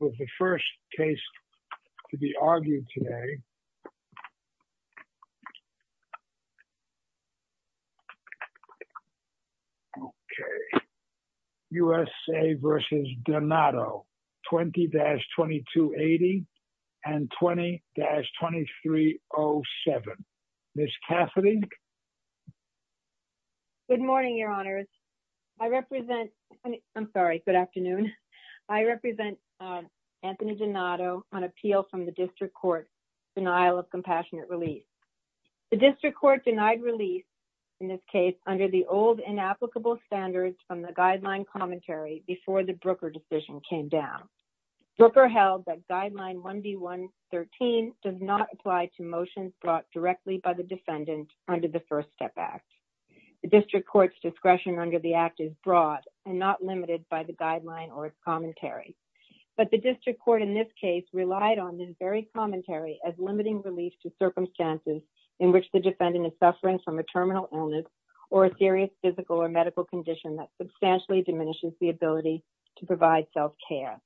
was the first case to be argued today. Okay. USA v. Donato, 20-2280 and 20-2307. Ms. Catherine? Good morning, Your Honors. I represent, I'm sorry, good afternoon. I represent Anthony Donato on appeal from the District Court denial of compassionate release. The District Court denied release in this case under the old inapplicable standards from the guideline commentary before the Brooker decision came down. Brooker held that guideline 1B.1.13 does not apply to motions brought directly by the defendant under the First Step Act. The District Court's discretion under the act is broad and not limited by the guideline or its commentary. But the District Court in this case relied on this very commentary as limiting relief to circumstances in which the defendant is suffering from a terminal illness or a serious physical or medical condition that substantially diminishes the ability to provide self-care.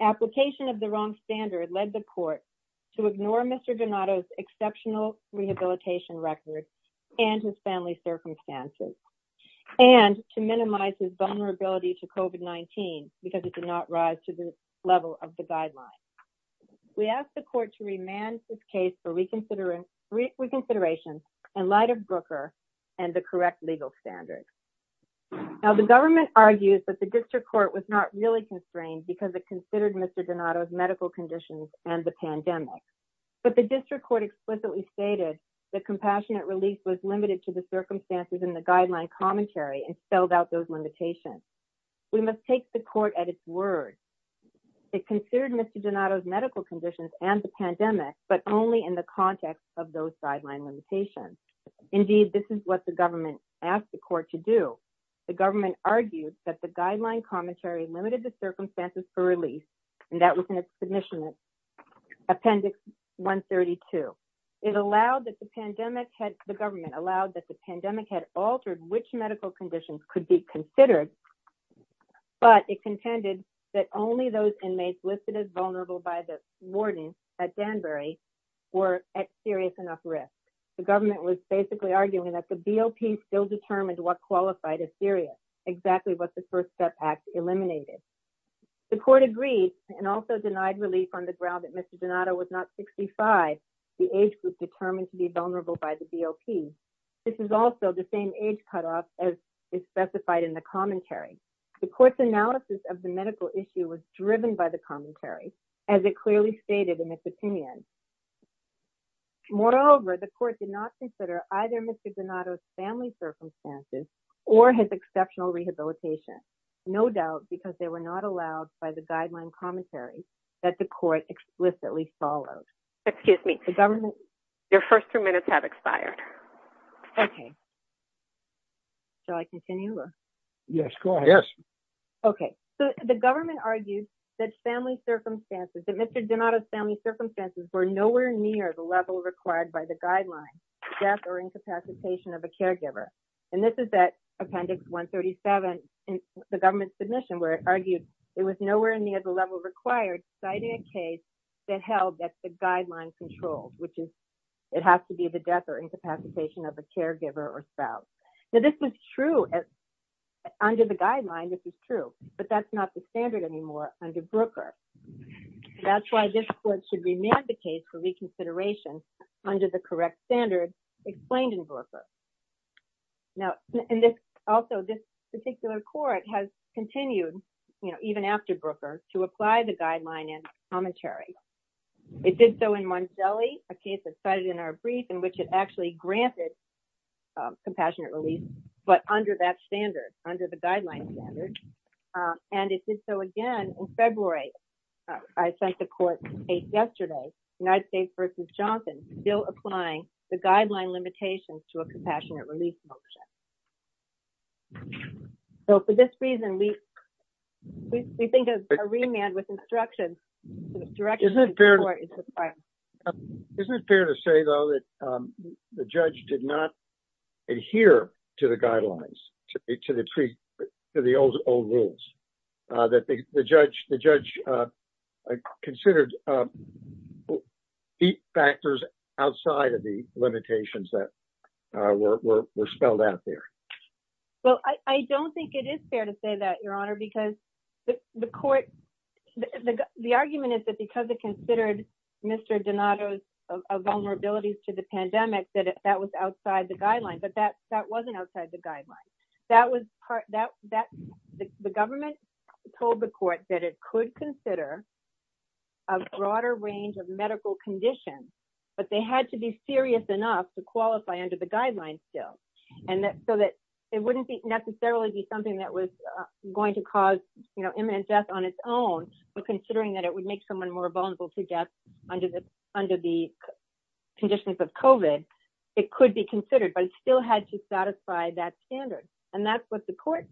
Application of the wrong standard led the court to ignore Mr. Donato's exceptional rehabilitation record and his family circumstances and to minimize his vulnerability to COVID-19 because it did not rise to the level of the guideline. We ask the court to remand this case for reconsideration in light of Brooker and the correct legal standards. Now the government argues that the District Court was not really constrained because it considered Mr. Donato's medical conditions and the pandemic. But the District Court explicitly stated that compassionate release was limited to the circumstances in the guideline commentary and spelled out those limitations. We must take the court at its word. It considered Mr. Donato's medical conditions and the pandemic, but only in the context of those guideline limitations. Indeed, this is what the government asked the court to do. The government argued that the guideline commentary limited the circumstances for release, and that was in its submission appendix 132. The government allowed that the pandemic had altered which medical conditions could be considered, but it contended that only those inmates listed as vulnerable by the warden at Danbury were at serious enough risk. The government was basically arguing that the BOP still determined what qualified as serious, exactly what the First Step Act eliminated. The court agreed and also denied relief on the ground that Mr. Donato was not 65, the age group determined to be vulnerable by the BOP. This is also the same age cutoff as is specified in the commentary. The court's analysis of the medical issue was driven by the commentary, as it clearly stated in its opinion. Moreover, the court did not consider either Mr. Donato's family circumstances or his exceptional rehabilitation, no doubt because they were not allowed by the guideline commentary that the court explicitly followed. Excuse me, your first two minutes have expired. Okay, shall I continue? Yes, go ahead. Okay, so the government argued that Mr. Donato's family circumstances were nowhere near the level required by the guideline, death or incapacitation of a caregiver, and this is at appendix 137 in the government's submission where it argued it was nowhere near the level required citing a case that held that the guideline controlled, which is it has to be the death or incapacitation of a caregiver or spouse. Now, this was true under the guideline, this is true, but that's not the standard anymore under Brooker. That's why this court should remand the case for reconsideration under the correct standard explained in Brooker. Now, also, this particular court has continued, you know, even after Brooker to apply the guideline in commentary. It did so in Manzelli, a case that's cited in our brief in which it actually granted compassionate release, but under that standard, under the guideline standard, and it did so again in February. I sent the court yesterday, United States versus Johnson, still applying the guideline limitations to a compassionate release motion. So, for this reason, we think of a remand with instructions. Isn't it fair to say, though, that the judge did not adhere to the guidelines, to the old rules, that the judge considered deep factors outside of the limitations that were spelled out there? Well, I don't think it is fair to say that, Your Honor, because the court, the argument is that because it considered Mr. Donato's vulnerabilities to the pandemic, that that was outside the guideline, but that wasn't outside the guideline. The government told the court that it could consider a broader range of medical conditions, but they had to be serious enough to qualify under the guidelines still, so that it wouldn't necessarily be something that was going to cause imminent death on its own, but considering that it would make someone more vulnerable to death under the conditions of COVID, it could be considered, but it still had to satisfy that standard, and that's what the court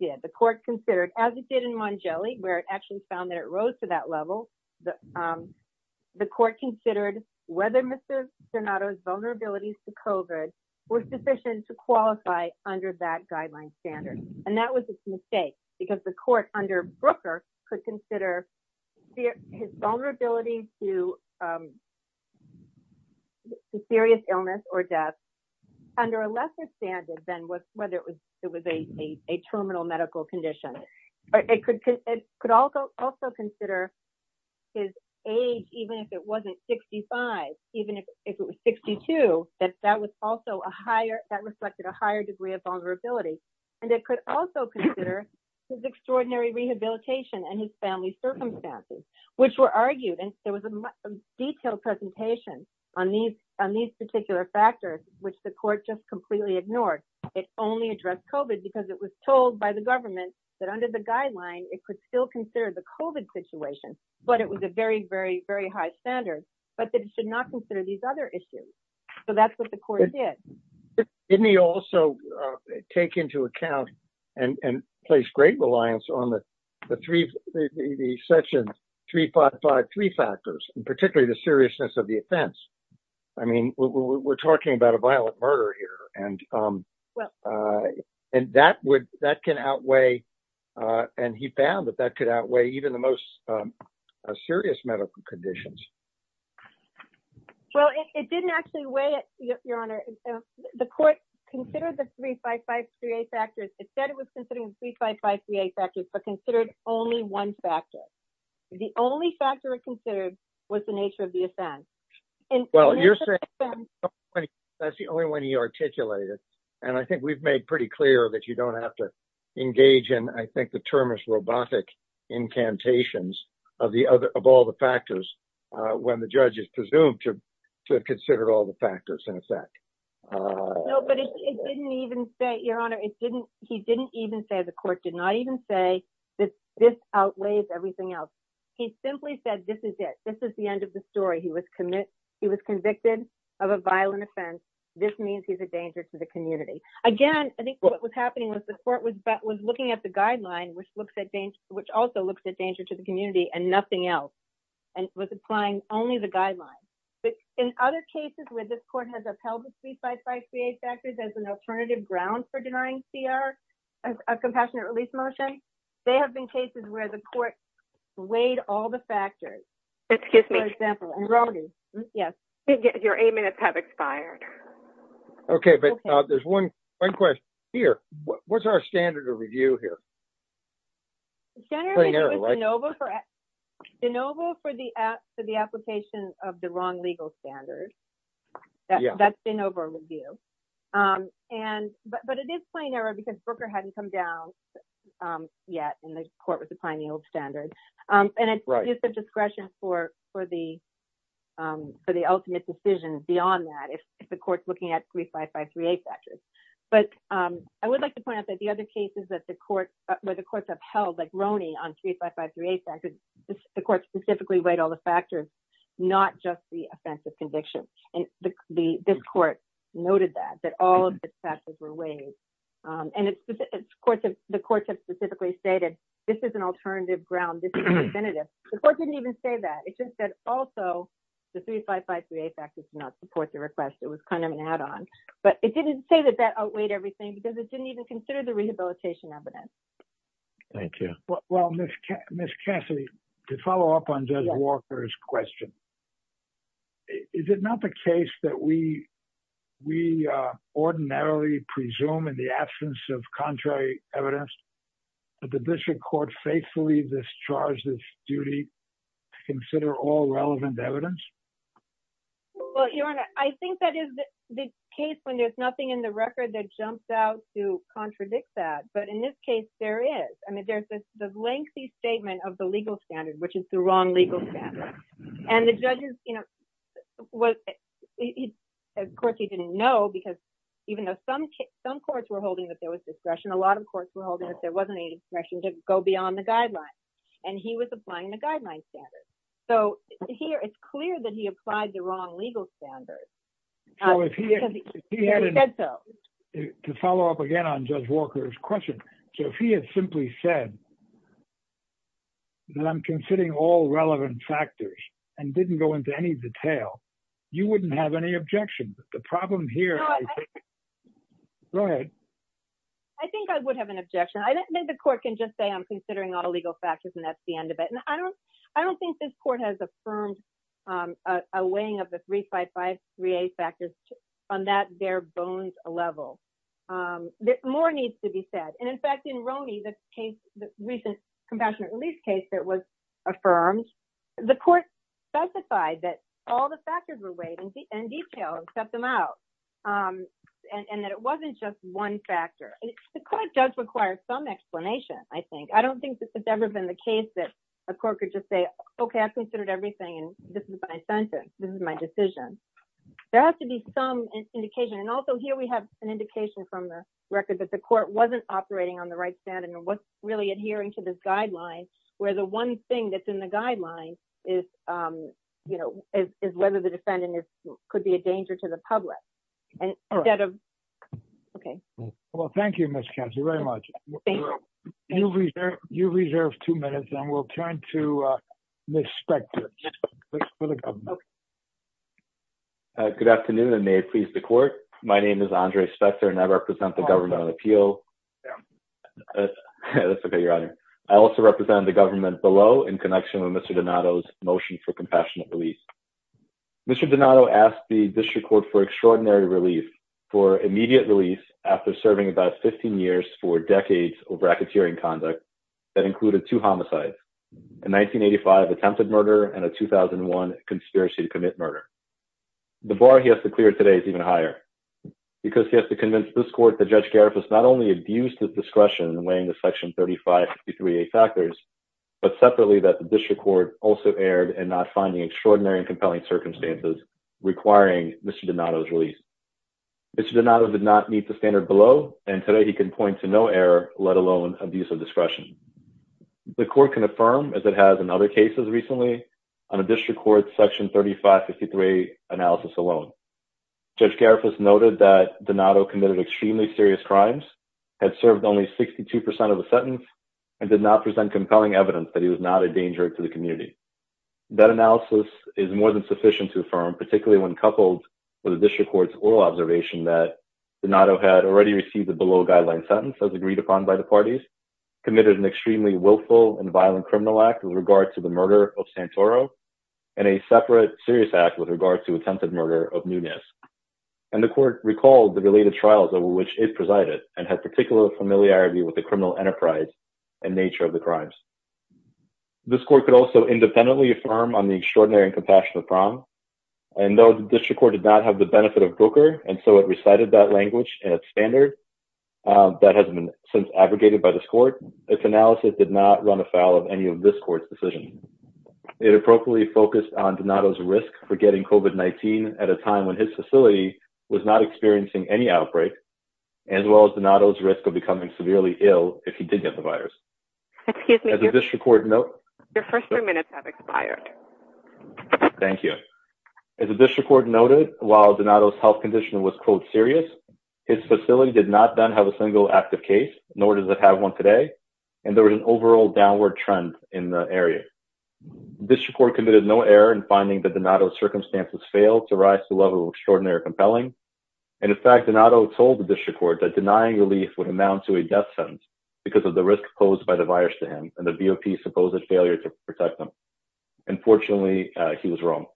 did. The court considered, as it did in Mongeli, where it actually found that it rose to that level, the court considered whether Mr. Donato's vulnerabilities to COVID were sufficient to qualify under that guideline standard, and that was a mistake, because the court under Brooker could consider his vulnerability to serious illness or death under a lesser standard than whether it was a terminal medical condition. It could also consider his age, even if it wasn't 65, even if it was 62, that reflected a higher degree of vulnerability, and it could also consider his extraordinary rehabilitation and his family circumstances, which were argued, and there was a detailed presentation on these particular factors, which the court just completely ignored. It only addressed COVID because it was told by the government that under the guideline, it could still consider the COVID situation, but it was a very, very, very high standard, but that it should not consider these other issues, so that's what the court did. Didn't he also take into account and place great reliance on the Section 355-3 factors, and particularly the seriousness of the offense? I mean, we're talking about a violent murder here, and that can outweigh, and he found that that could outweigh even the most serious medical conditions. Well, it didn't actually weigh it, Your Honor. The court considered the 355-3A factors. It said it was considering the 355-3A factors, but considered only one factor. The only factor it considered was the nature of the offense. Well, you're saying that's the only one he articulated, and I think we've made pretty clear that you don't have to engage in, I think the term is robotic incantations of all the factors when the judge is presumed to have considered all the factors in effect. No, but it didn't even say, Your Honor, he didn't even say, the court did not even say that this outweighs everything else. He simply said this is it. This is the end of the story. He was convicted of a violent offense. This means he's a danger to the community. Again, I think what was happening was the court was looking at the guideline, which also looks at danger to the community and nothing else, and was applying only the guideline. But in other cases where this court has upheld the 355-3A factors as an alternative ground for denying CR a compassionate release motion, there have been cases where the court weighed all the factors. Excuse me. Yes. Your eight minutes have expired. Okay, but there's one question here. What's our standard of review here? The standard review is de novo for the application of the wrong legal standard. That's de novo review. But it is plain error because Brooker hadn't come down yet when the court was applying the old standard. And it's use of discretion for the ultimate decision beyond that, if the court's looking at 355-3A factors. But I would like to point out that the other cases where the courts upheld, like Roney on 355-3A factors, the court specifically weighed all the factors, not just the offensive conviction. And this court noted that, that all of its factors were weighed. And the courts have specifically stated this is an alternative ground. This is definitive. The court didn't even say that. It just said also the 355-3A factors do not support the request. It was kind of an add-on. But it didn't say that that outweighed everything because it didn't even consider the rehabilitation evidence. Thank you. Well, Ms. Cassidy, to follow up on Judge Walker's question, is it not the case that we ordinarily presume in the absence of contrary evidence that the district court faithfully discharged its duty to consider all relevant evidence? Well, Your Honor, I think that is the case when there's nothing in the record that jumps out to contradict that. But in this case, there is. I mean, there's this lengthy statement of the legal standard, which is the wrong legal standard. And the judges, you know, of course, he didn't know because even though some courts were holding that there was discretion, a lot of courts were holding that there wasn't any discretion to go beyond the guidelines. And he was applying the guidelines standard. So here it's clear that he applied the wrong legal standard because he said so. To follow up again on Judge Walker's question, if he had simply said that I'm considering all relevant factors and didn't go into any detail, you wouldn't have any objection. The problem here. Go ahead. I think I would have an objection. I don't think the court can just say I'm considering all the legal factors and that's the end of it. And I don't I don't think this court has affirmed a weighing of the 355-3A factors on that bare bones level. More needs to be said. And, in fact, in Roney, the case, the recent compassionate release case that was affirmed, the court specified that all the factors were weighed in detail and set them out and that it wasn't just one factor. The court does require some explanation, I think. I don't think this has ever been the case that a court could just say, OK, I've considered everything and this is my sentence. This is my decision. There has to be some indication. And also here we have an indication from the record that the court wasn't operating on the right stand and wasn't really adhering to this guideline, where the one thing that's in the guideline is, you know, is whether the defendant could be a danger to the public. And instead of. OK. Well, thank you, Miss. Very much. You reserve two minutes and we'll turn to Ms. Spector. Good afternoon. And may it please the court. My name is Andre Spector and I represent the government appeal. I also represent the government below in connection with Mr. Donato's motion for compassionate release. Mr. Donato asked the district court for extraordinary relief for immediate release after serving about 15 years for decades of racketeering conduct that included two homicides. In 1985, attempted murder and a 2001 conspiracy to commit murder. The bar he has to clear today is even higher because he has to convince this court. The judge Gareth was not only abused his discretion in weighing the section 35, 53 factors, but separately, that the district court also erred and not finding extraordinary and compelling circumstances requiring Mr. Donato's release. Mr. Donato did not meet the standard below. And today he can point to no error, let alone abuse of discretion. The court can affirm as it has in other cases recently on a district court section 35, 53 analysis alone. Judge Gareth has noted that Donato committed extremely serious crimes, had served only 62% of the sentence, and did not present compelling evidence that he was not a danger to the community. That analysis is more than sufficient to affirm, particularly when coupled with a district court's oral observation that Donato had already received the below guideline sentence as agreed upon by the parties, committed an extremely willful and violent criminal act with regard to the murder of Santoro, and a separate serious act with regard to attempted murder of Nunez. And the court recalled the related trials over which it presided and had particular familiarity with the criminal enterprise and nature of the crimes. This court could also independently affirm on the extraordinary and compassionate prom. And though the district court did not have the benefit of Booker, and so it recited that language and standard that has been since aggregated by this court, its analysis did not run afoul of any of this court's decision. It appropriately focused on Donato's risk for getting COVID-19 at a time when his facility was not experiencing any outbreak, as well as Donato's risk of becoming severely ill if he did get the virus. Excuse me. Your first few minutes have expired. Thank you. As the district court noted, while Donato's health condition was, quote, serious, his facility did not then have a single active case, nor does it have one today, and there was an overall downward trend in the area. District court committed no error in finding that Donato's circumstances failed to rise to the level of extraordinary or compelling. And in fact, Donato told the district court that denying relief would amount to a death sentence because of the risk posed by the virus to him and the VOP's supposed failure to protect him. Unfortunately, he was wrong.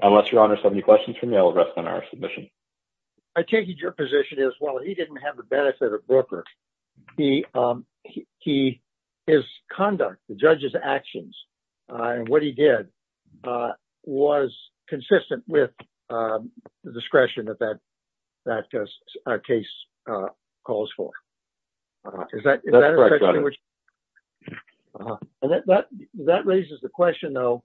Unless Your Honor has any questions for me, I will rest on our submission. I take it your position is, well, he didn't have the benefit of Brooker. His conduct, the judge's actions, and what he did was consistent with the discretion that that case calls for. Is that correct, Your Honor? That raises the question, though,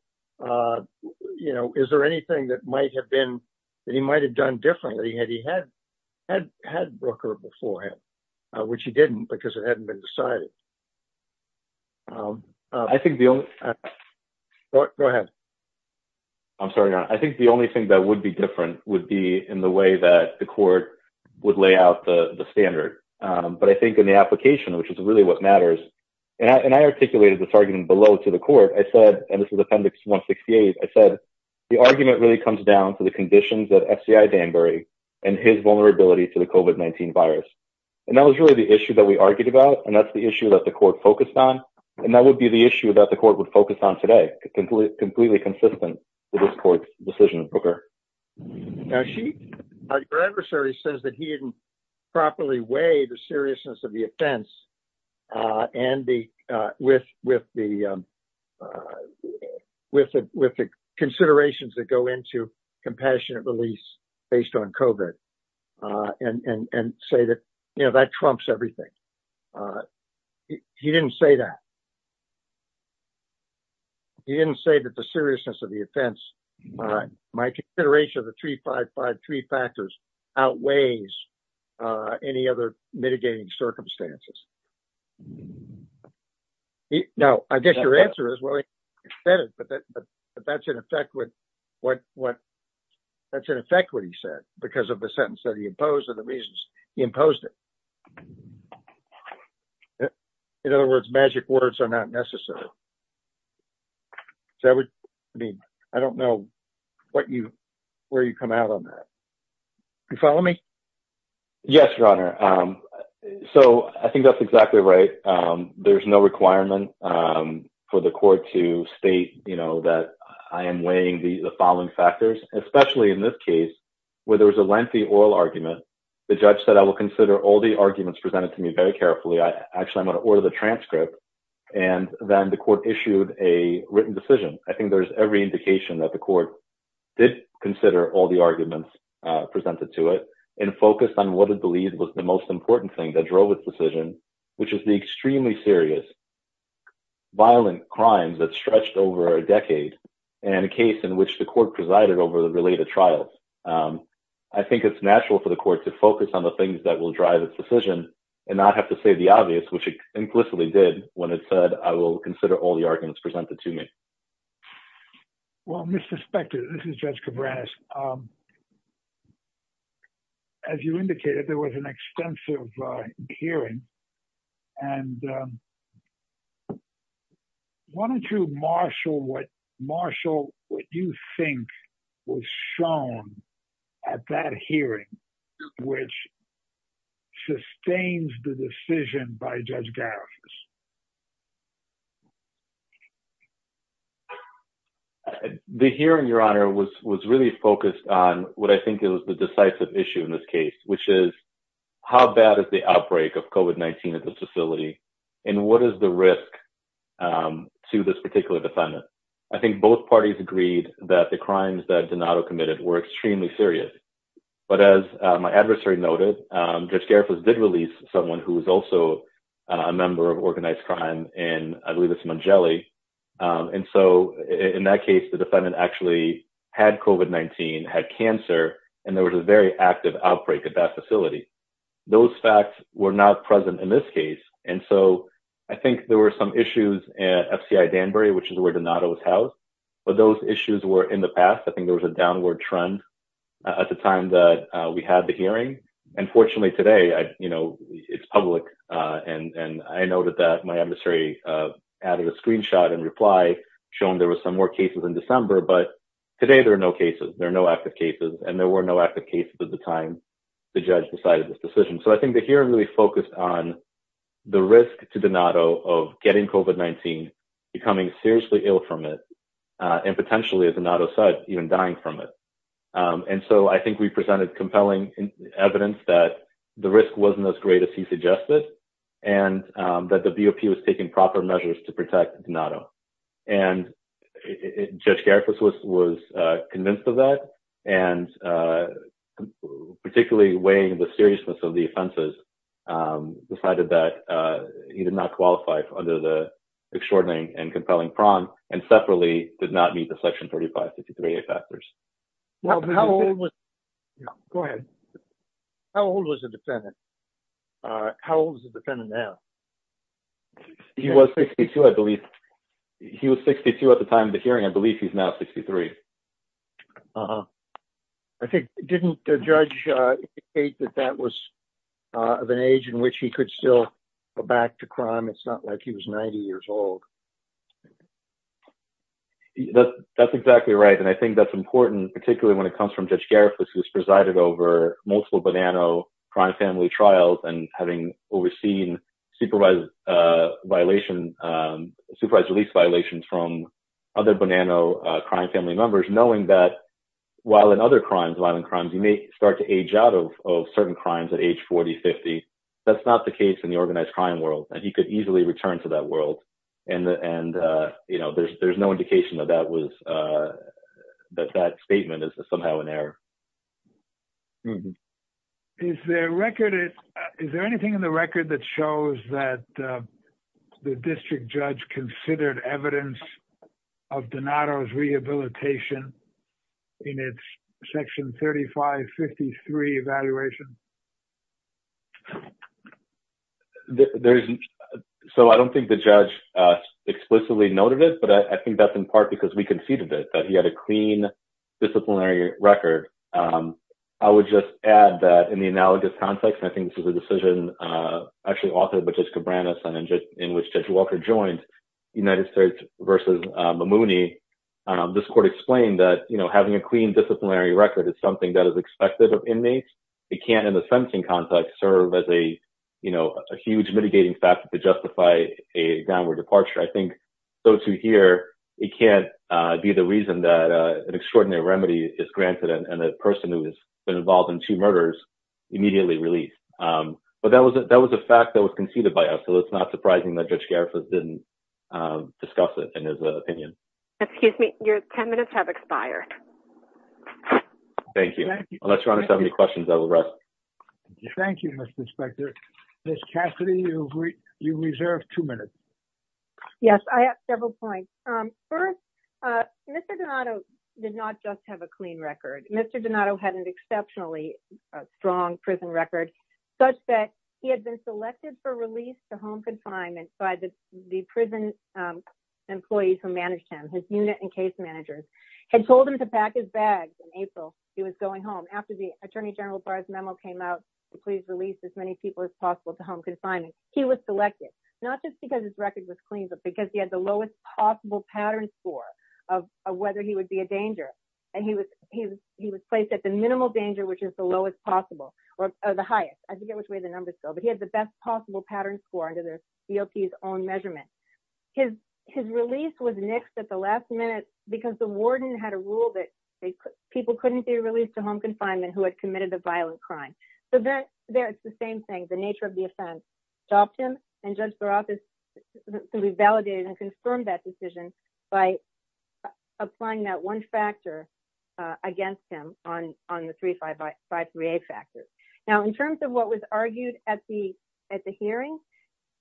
you know, is there anything that might have been, that he might have done differently had he had had Brooker beforehand, which he didn't because it hadn't been decided. I think the only... Go ahead. I'm sorry, Your Honor. I think the only thing that would be different would be in the way that the court would lay out the standard. But I think in the application, which is really what matters, and I articulated this argument below to the court, I said, and this is Appendix 168, I said, the argument really comes down to the conditions that FCI Danbury and his vulnerability to the COVID-19 virus. And that was really the issue that we argued about, and that's the issue that the court focused on. And that would be the issue that the court would focus on today, completely consistent with this court's decision on Brooker. Now, your adversary says that he didn't properly weigh the seriousness of the offense with the considerations that go into compassionate release based on COVID and say that, you know, that trumps everything. He didn't say that. He didn't say that the seriousness of the offense, my consideration of the 355 three factors, outweighs any other mitigating circumstances. Now, I guess your answer is, well, he said it, but that's in effect what he said because of the sentence that he imposed and the reasons he imposed it. In other words, magic words are not necessary. I mean, I don't know what you, where you come out on that. You follow me? Yes, Your Honor. So I think that's exactly right. There's no requirement for the court to state, you know, that I am weighing the following factors, especially in this case where there was a lengthy oral argument. The judge said, I will consider all the arguments presented to me very carefully. Actually, I'm going to order the transcript. And then the court issued a written decision. I think there's every indication that the court did consider all the arguments presented to it and focused on what it believed was the most important thing that drove its decision, which is the extremely serious, violent crimes that stretched over a decade and a case in which the court presided over the related trials. I think it's natural for the court to focus on the things that will drive its decision and not have to say the obvious, which it implicitly did when it said, I will consider all the arguments presented to me. Well, Mr. Spector, this is Judge Cabreras. As you indicated, there was an extensive hearing. And why don't you marshal what, marshal what you think was shown at that hearing, which sustains the decision by Judge Garris. The hearing, Your Honor, was really focused on what I think is the decisive issue in this case, which is how bad is the outbreak of COVID-19 at the facility? And what is the risk to this particular defendant? I think both parties agreed that the crimes that Donato committed were extremely serious. But as my adversary noted, Judge Garris did release someone who was also a member of organized crime, and I believe it's Mongeli. And so in that case, the defendant actually had COVID-19, had cancer, and there was a very active outbreak at that facility. Those facts were not present in this case. And so I think there were some issues at FCI Danbury, which is where Donato was housed. But those issues were in the past. I think there was a downward trend at the time that we had the hearing. And fortunately today, you know, it's public. And I noted that my adversary added a screenshot in reply, showing there were some more cases in December. But today there are no cases. There are no active cases. And there were no active cases at the time the judge decided this decision. So I think the hearing really focused on the risk to Donato of getting COVID-19, becoming seriously ill from it, and potentially, as Donato said, even dying from it. And so I think we presented compelling evidence that the risk wasn't as great as he suggested, and that the BOP was taking proper measures to protect Donato. And Judge Garifuss was convinced of that, and particularly weighing the seriousness of the offenses, decided that he did not qualify under the extraordinary and compelling prong, and separately did not meet the Section 3553A factors. How old was the defendant? How old is the defendant now? He was 62, I believe. He was 62 at the time of the hearing. I believe he's now 63. Uh-huh. Didn't the judge indicate that that was of an age in which he could still go back to crime? It's not like he was 90 years old. That's exactly right. And I think that's important, particularly when it comes from Judge Garifuss, who has presided over multiple Bonanno crime family trials and having overseen supervised release violations from other Bonanno crime family members, knowing that while in other crimes, violent crimes, you may start to age out of certain crimes at age 40, 50. That's not the case in the organized crime world. He could easily return to that world, and there's no indication that that statement is somehow an error. Is there anything in the record that shows that the district judge considered evidence of Donato's rehabilitation in its Section 3553 evaluation? So I don't think the judge explicitly noted it, but I think that's in part because we conceded it, that he had a clean disciplinary record. I would just add that in the analogous context, and I think this is a decision actually authored by Judge Cabranes and in which Judge Walker joined the United States versus Mamouni, this court explained that having a clean disciplinary record is something that is expected of inmates. It can't, in the sentencing context, serve as a huge mitigating factor to justify a downward departure. I think those who hear, it can't be the reason that an extraordinary remedy is granted and the person who has been involved in two murders immediately released. But that was a fact that was conceded by us, so it's not surprising that Judge Garifuss didn't discuss it in his opinion. Excuse me, your 10 minutes have expired. Thank you. Unless your Honor has any questions, I will rest. Thank you, Mr. Inspector. Ms. Cassidy, you reserve two minutes. Yes, I have several points. First, Mr. Donato did not just have a clean record. Mr. Donato had an exceptionally strong prison record such that he had been selected for release to home confinement by the prison employees who managed him. His unit and case managers had told him to pack his bags in April. He was going home. After the Attorney General Barr's memo came out to please release as many people as possible to home confinement, he was selected. Not just because his record was clean, but because he had the lowest possible pattern score of whether he would be a danger. And he was placed at the minimal danger, which is the lowest possible, or the highest. I forget which way the numbers go, but he had the best possible pattern score under the DLP's own measurement. His release was nixed at the last minute because the warden had a rule that people couldn't be released to home confinement who had committed a violent crime. So, it's the same thing. The nature of the offense stopped him, and Judges were able to validate and confirm that decision by applying that one factor against him on the 3-5-5-3-A factors. Now, in terms of what was argued at the hearing,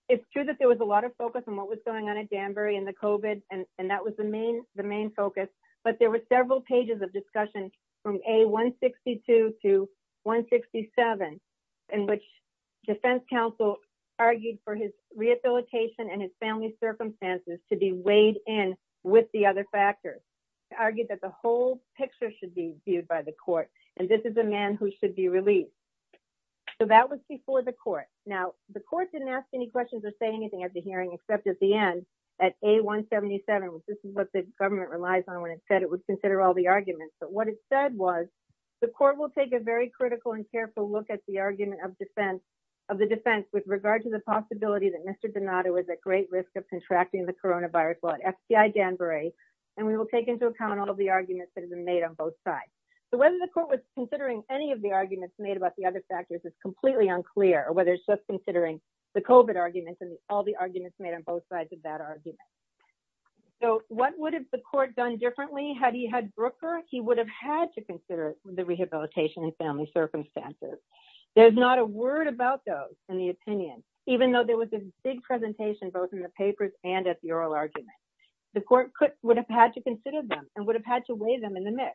it's true that there was a lot of focus on what was going on at Danbury and the COVID, and that was the main focus. But there were several pages of discussion from A-162 to A-167, in which defense counsel argued for his rehabilitation and his family's circumstances to be weighed in with the other factors. They argued that the whole picture should be viewed by the court, and this is a man who should be released. So, that was before the court. Now, the court didn't ask any questions or say anything at the hearing, except at the end, at A-177, which this is what the government relies on when it said it would consider all the arguments. But what it said was, the court will take a very critical and careful look at the argument of the defense with regard to the possibility that Mr. Donato is at great risk of contracting the coronavirus while at FBI Danbury. And we will take into account all the arguments that have been made on both sides. So, whether the court was considering any of the arguments made about the other factors is completely unclear, or whether it's just considering the COVID arguments and all the arguments made on both sides of that argument. So, what would have the court done differently? Had he had Brooker, he would have had to consider the rehabilitation and family circumstances. There's not a word about those in the opinion, even though there was a big presentation both in the papers and at the oral argument. The court would have had to consider them and would have had to weigh them in the mix.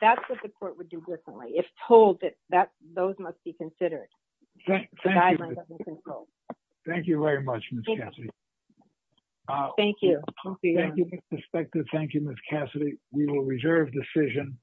That's what the court would do differently, if told that those must be considered. Thank you very much, Ms. Cassidy. Thank you. Thank you, Ms. Cassidy. We will reserve the decision.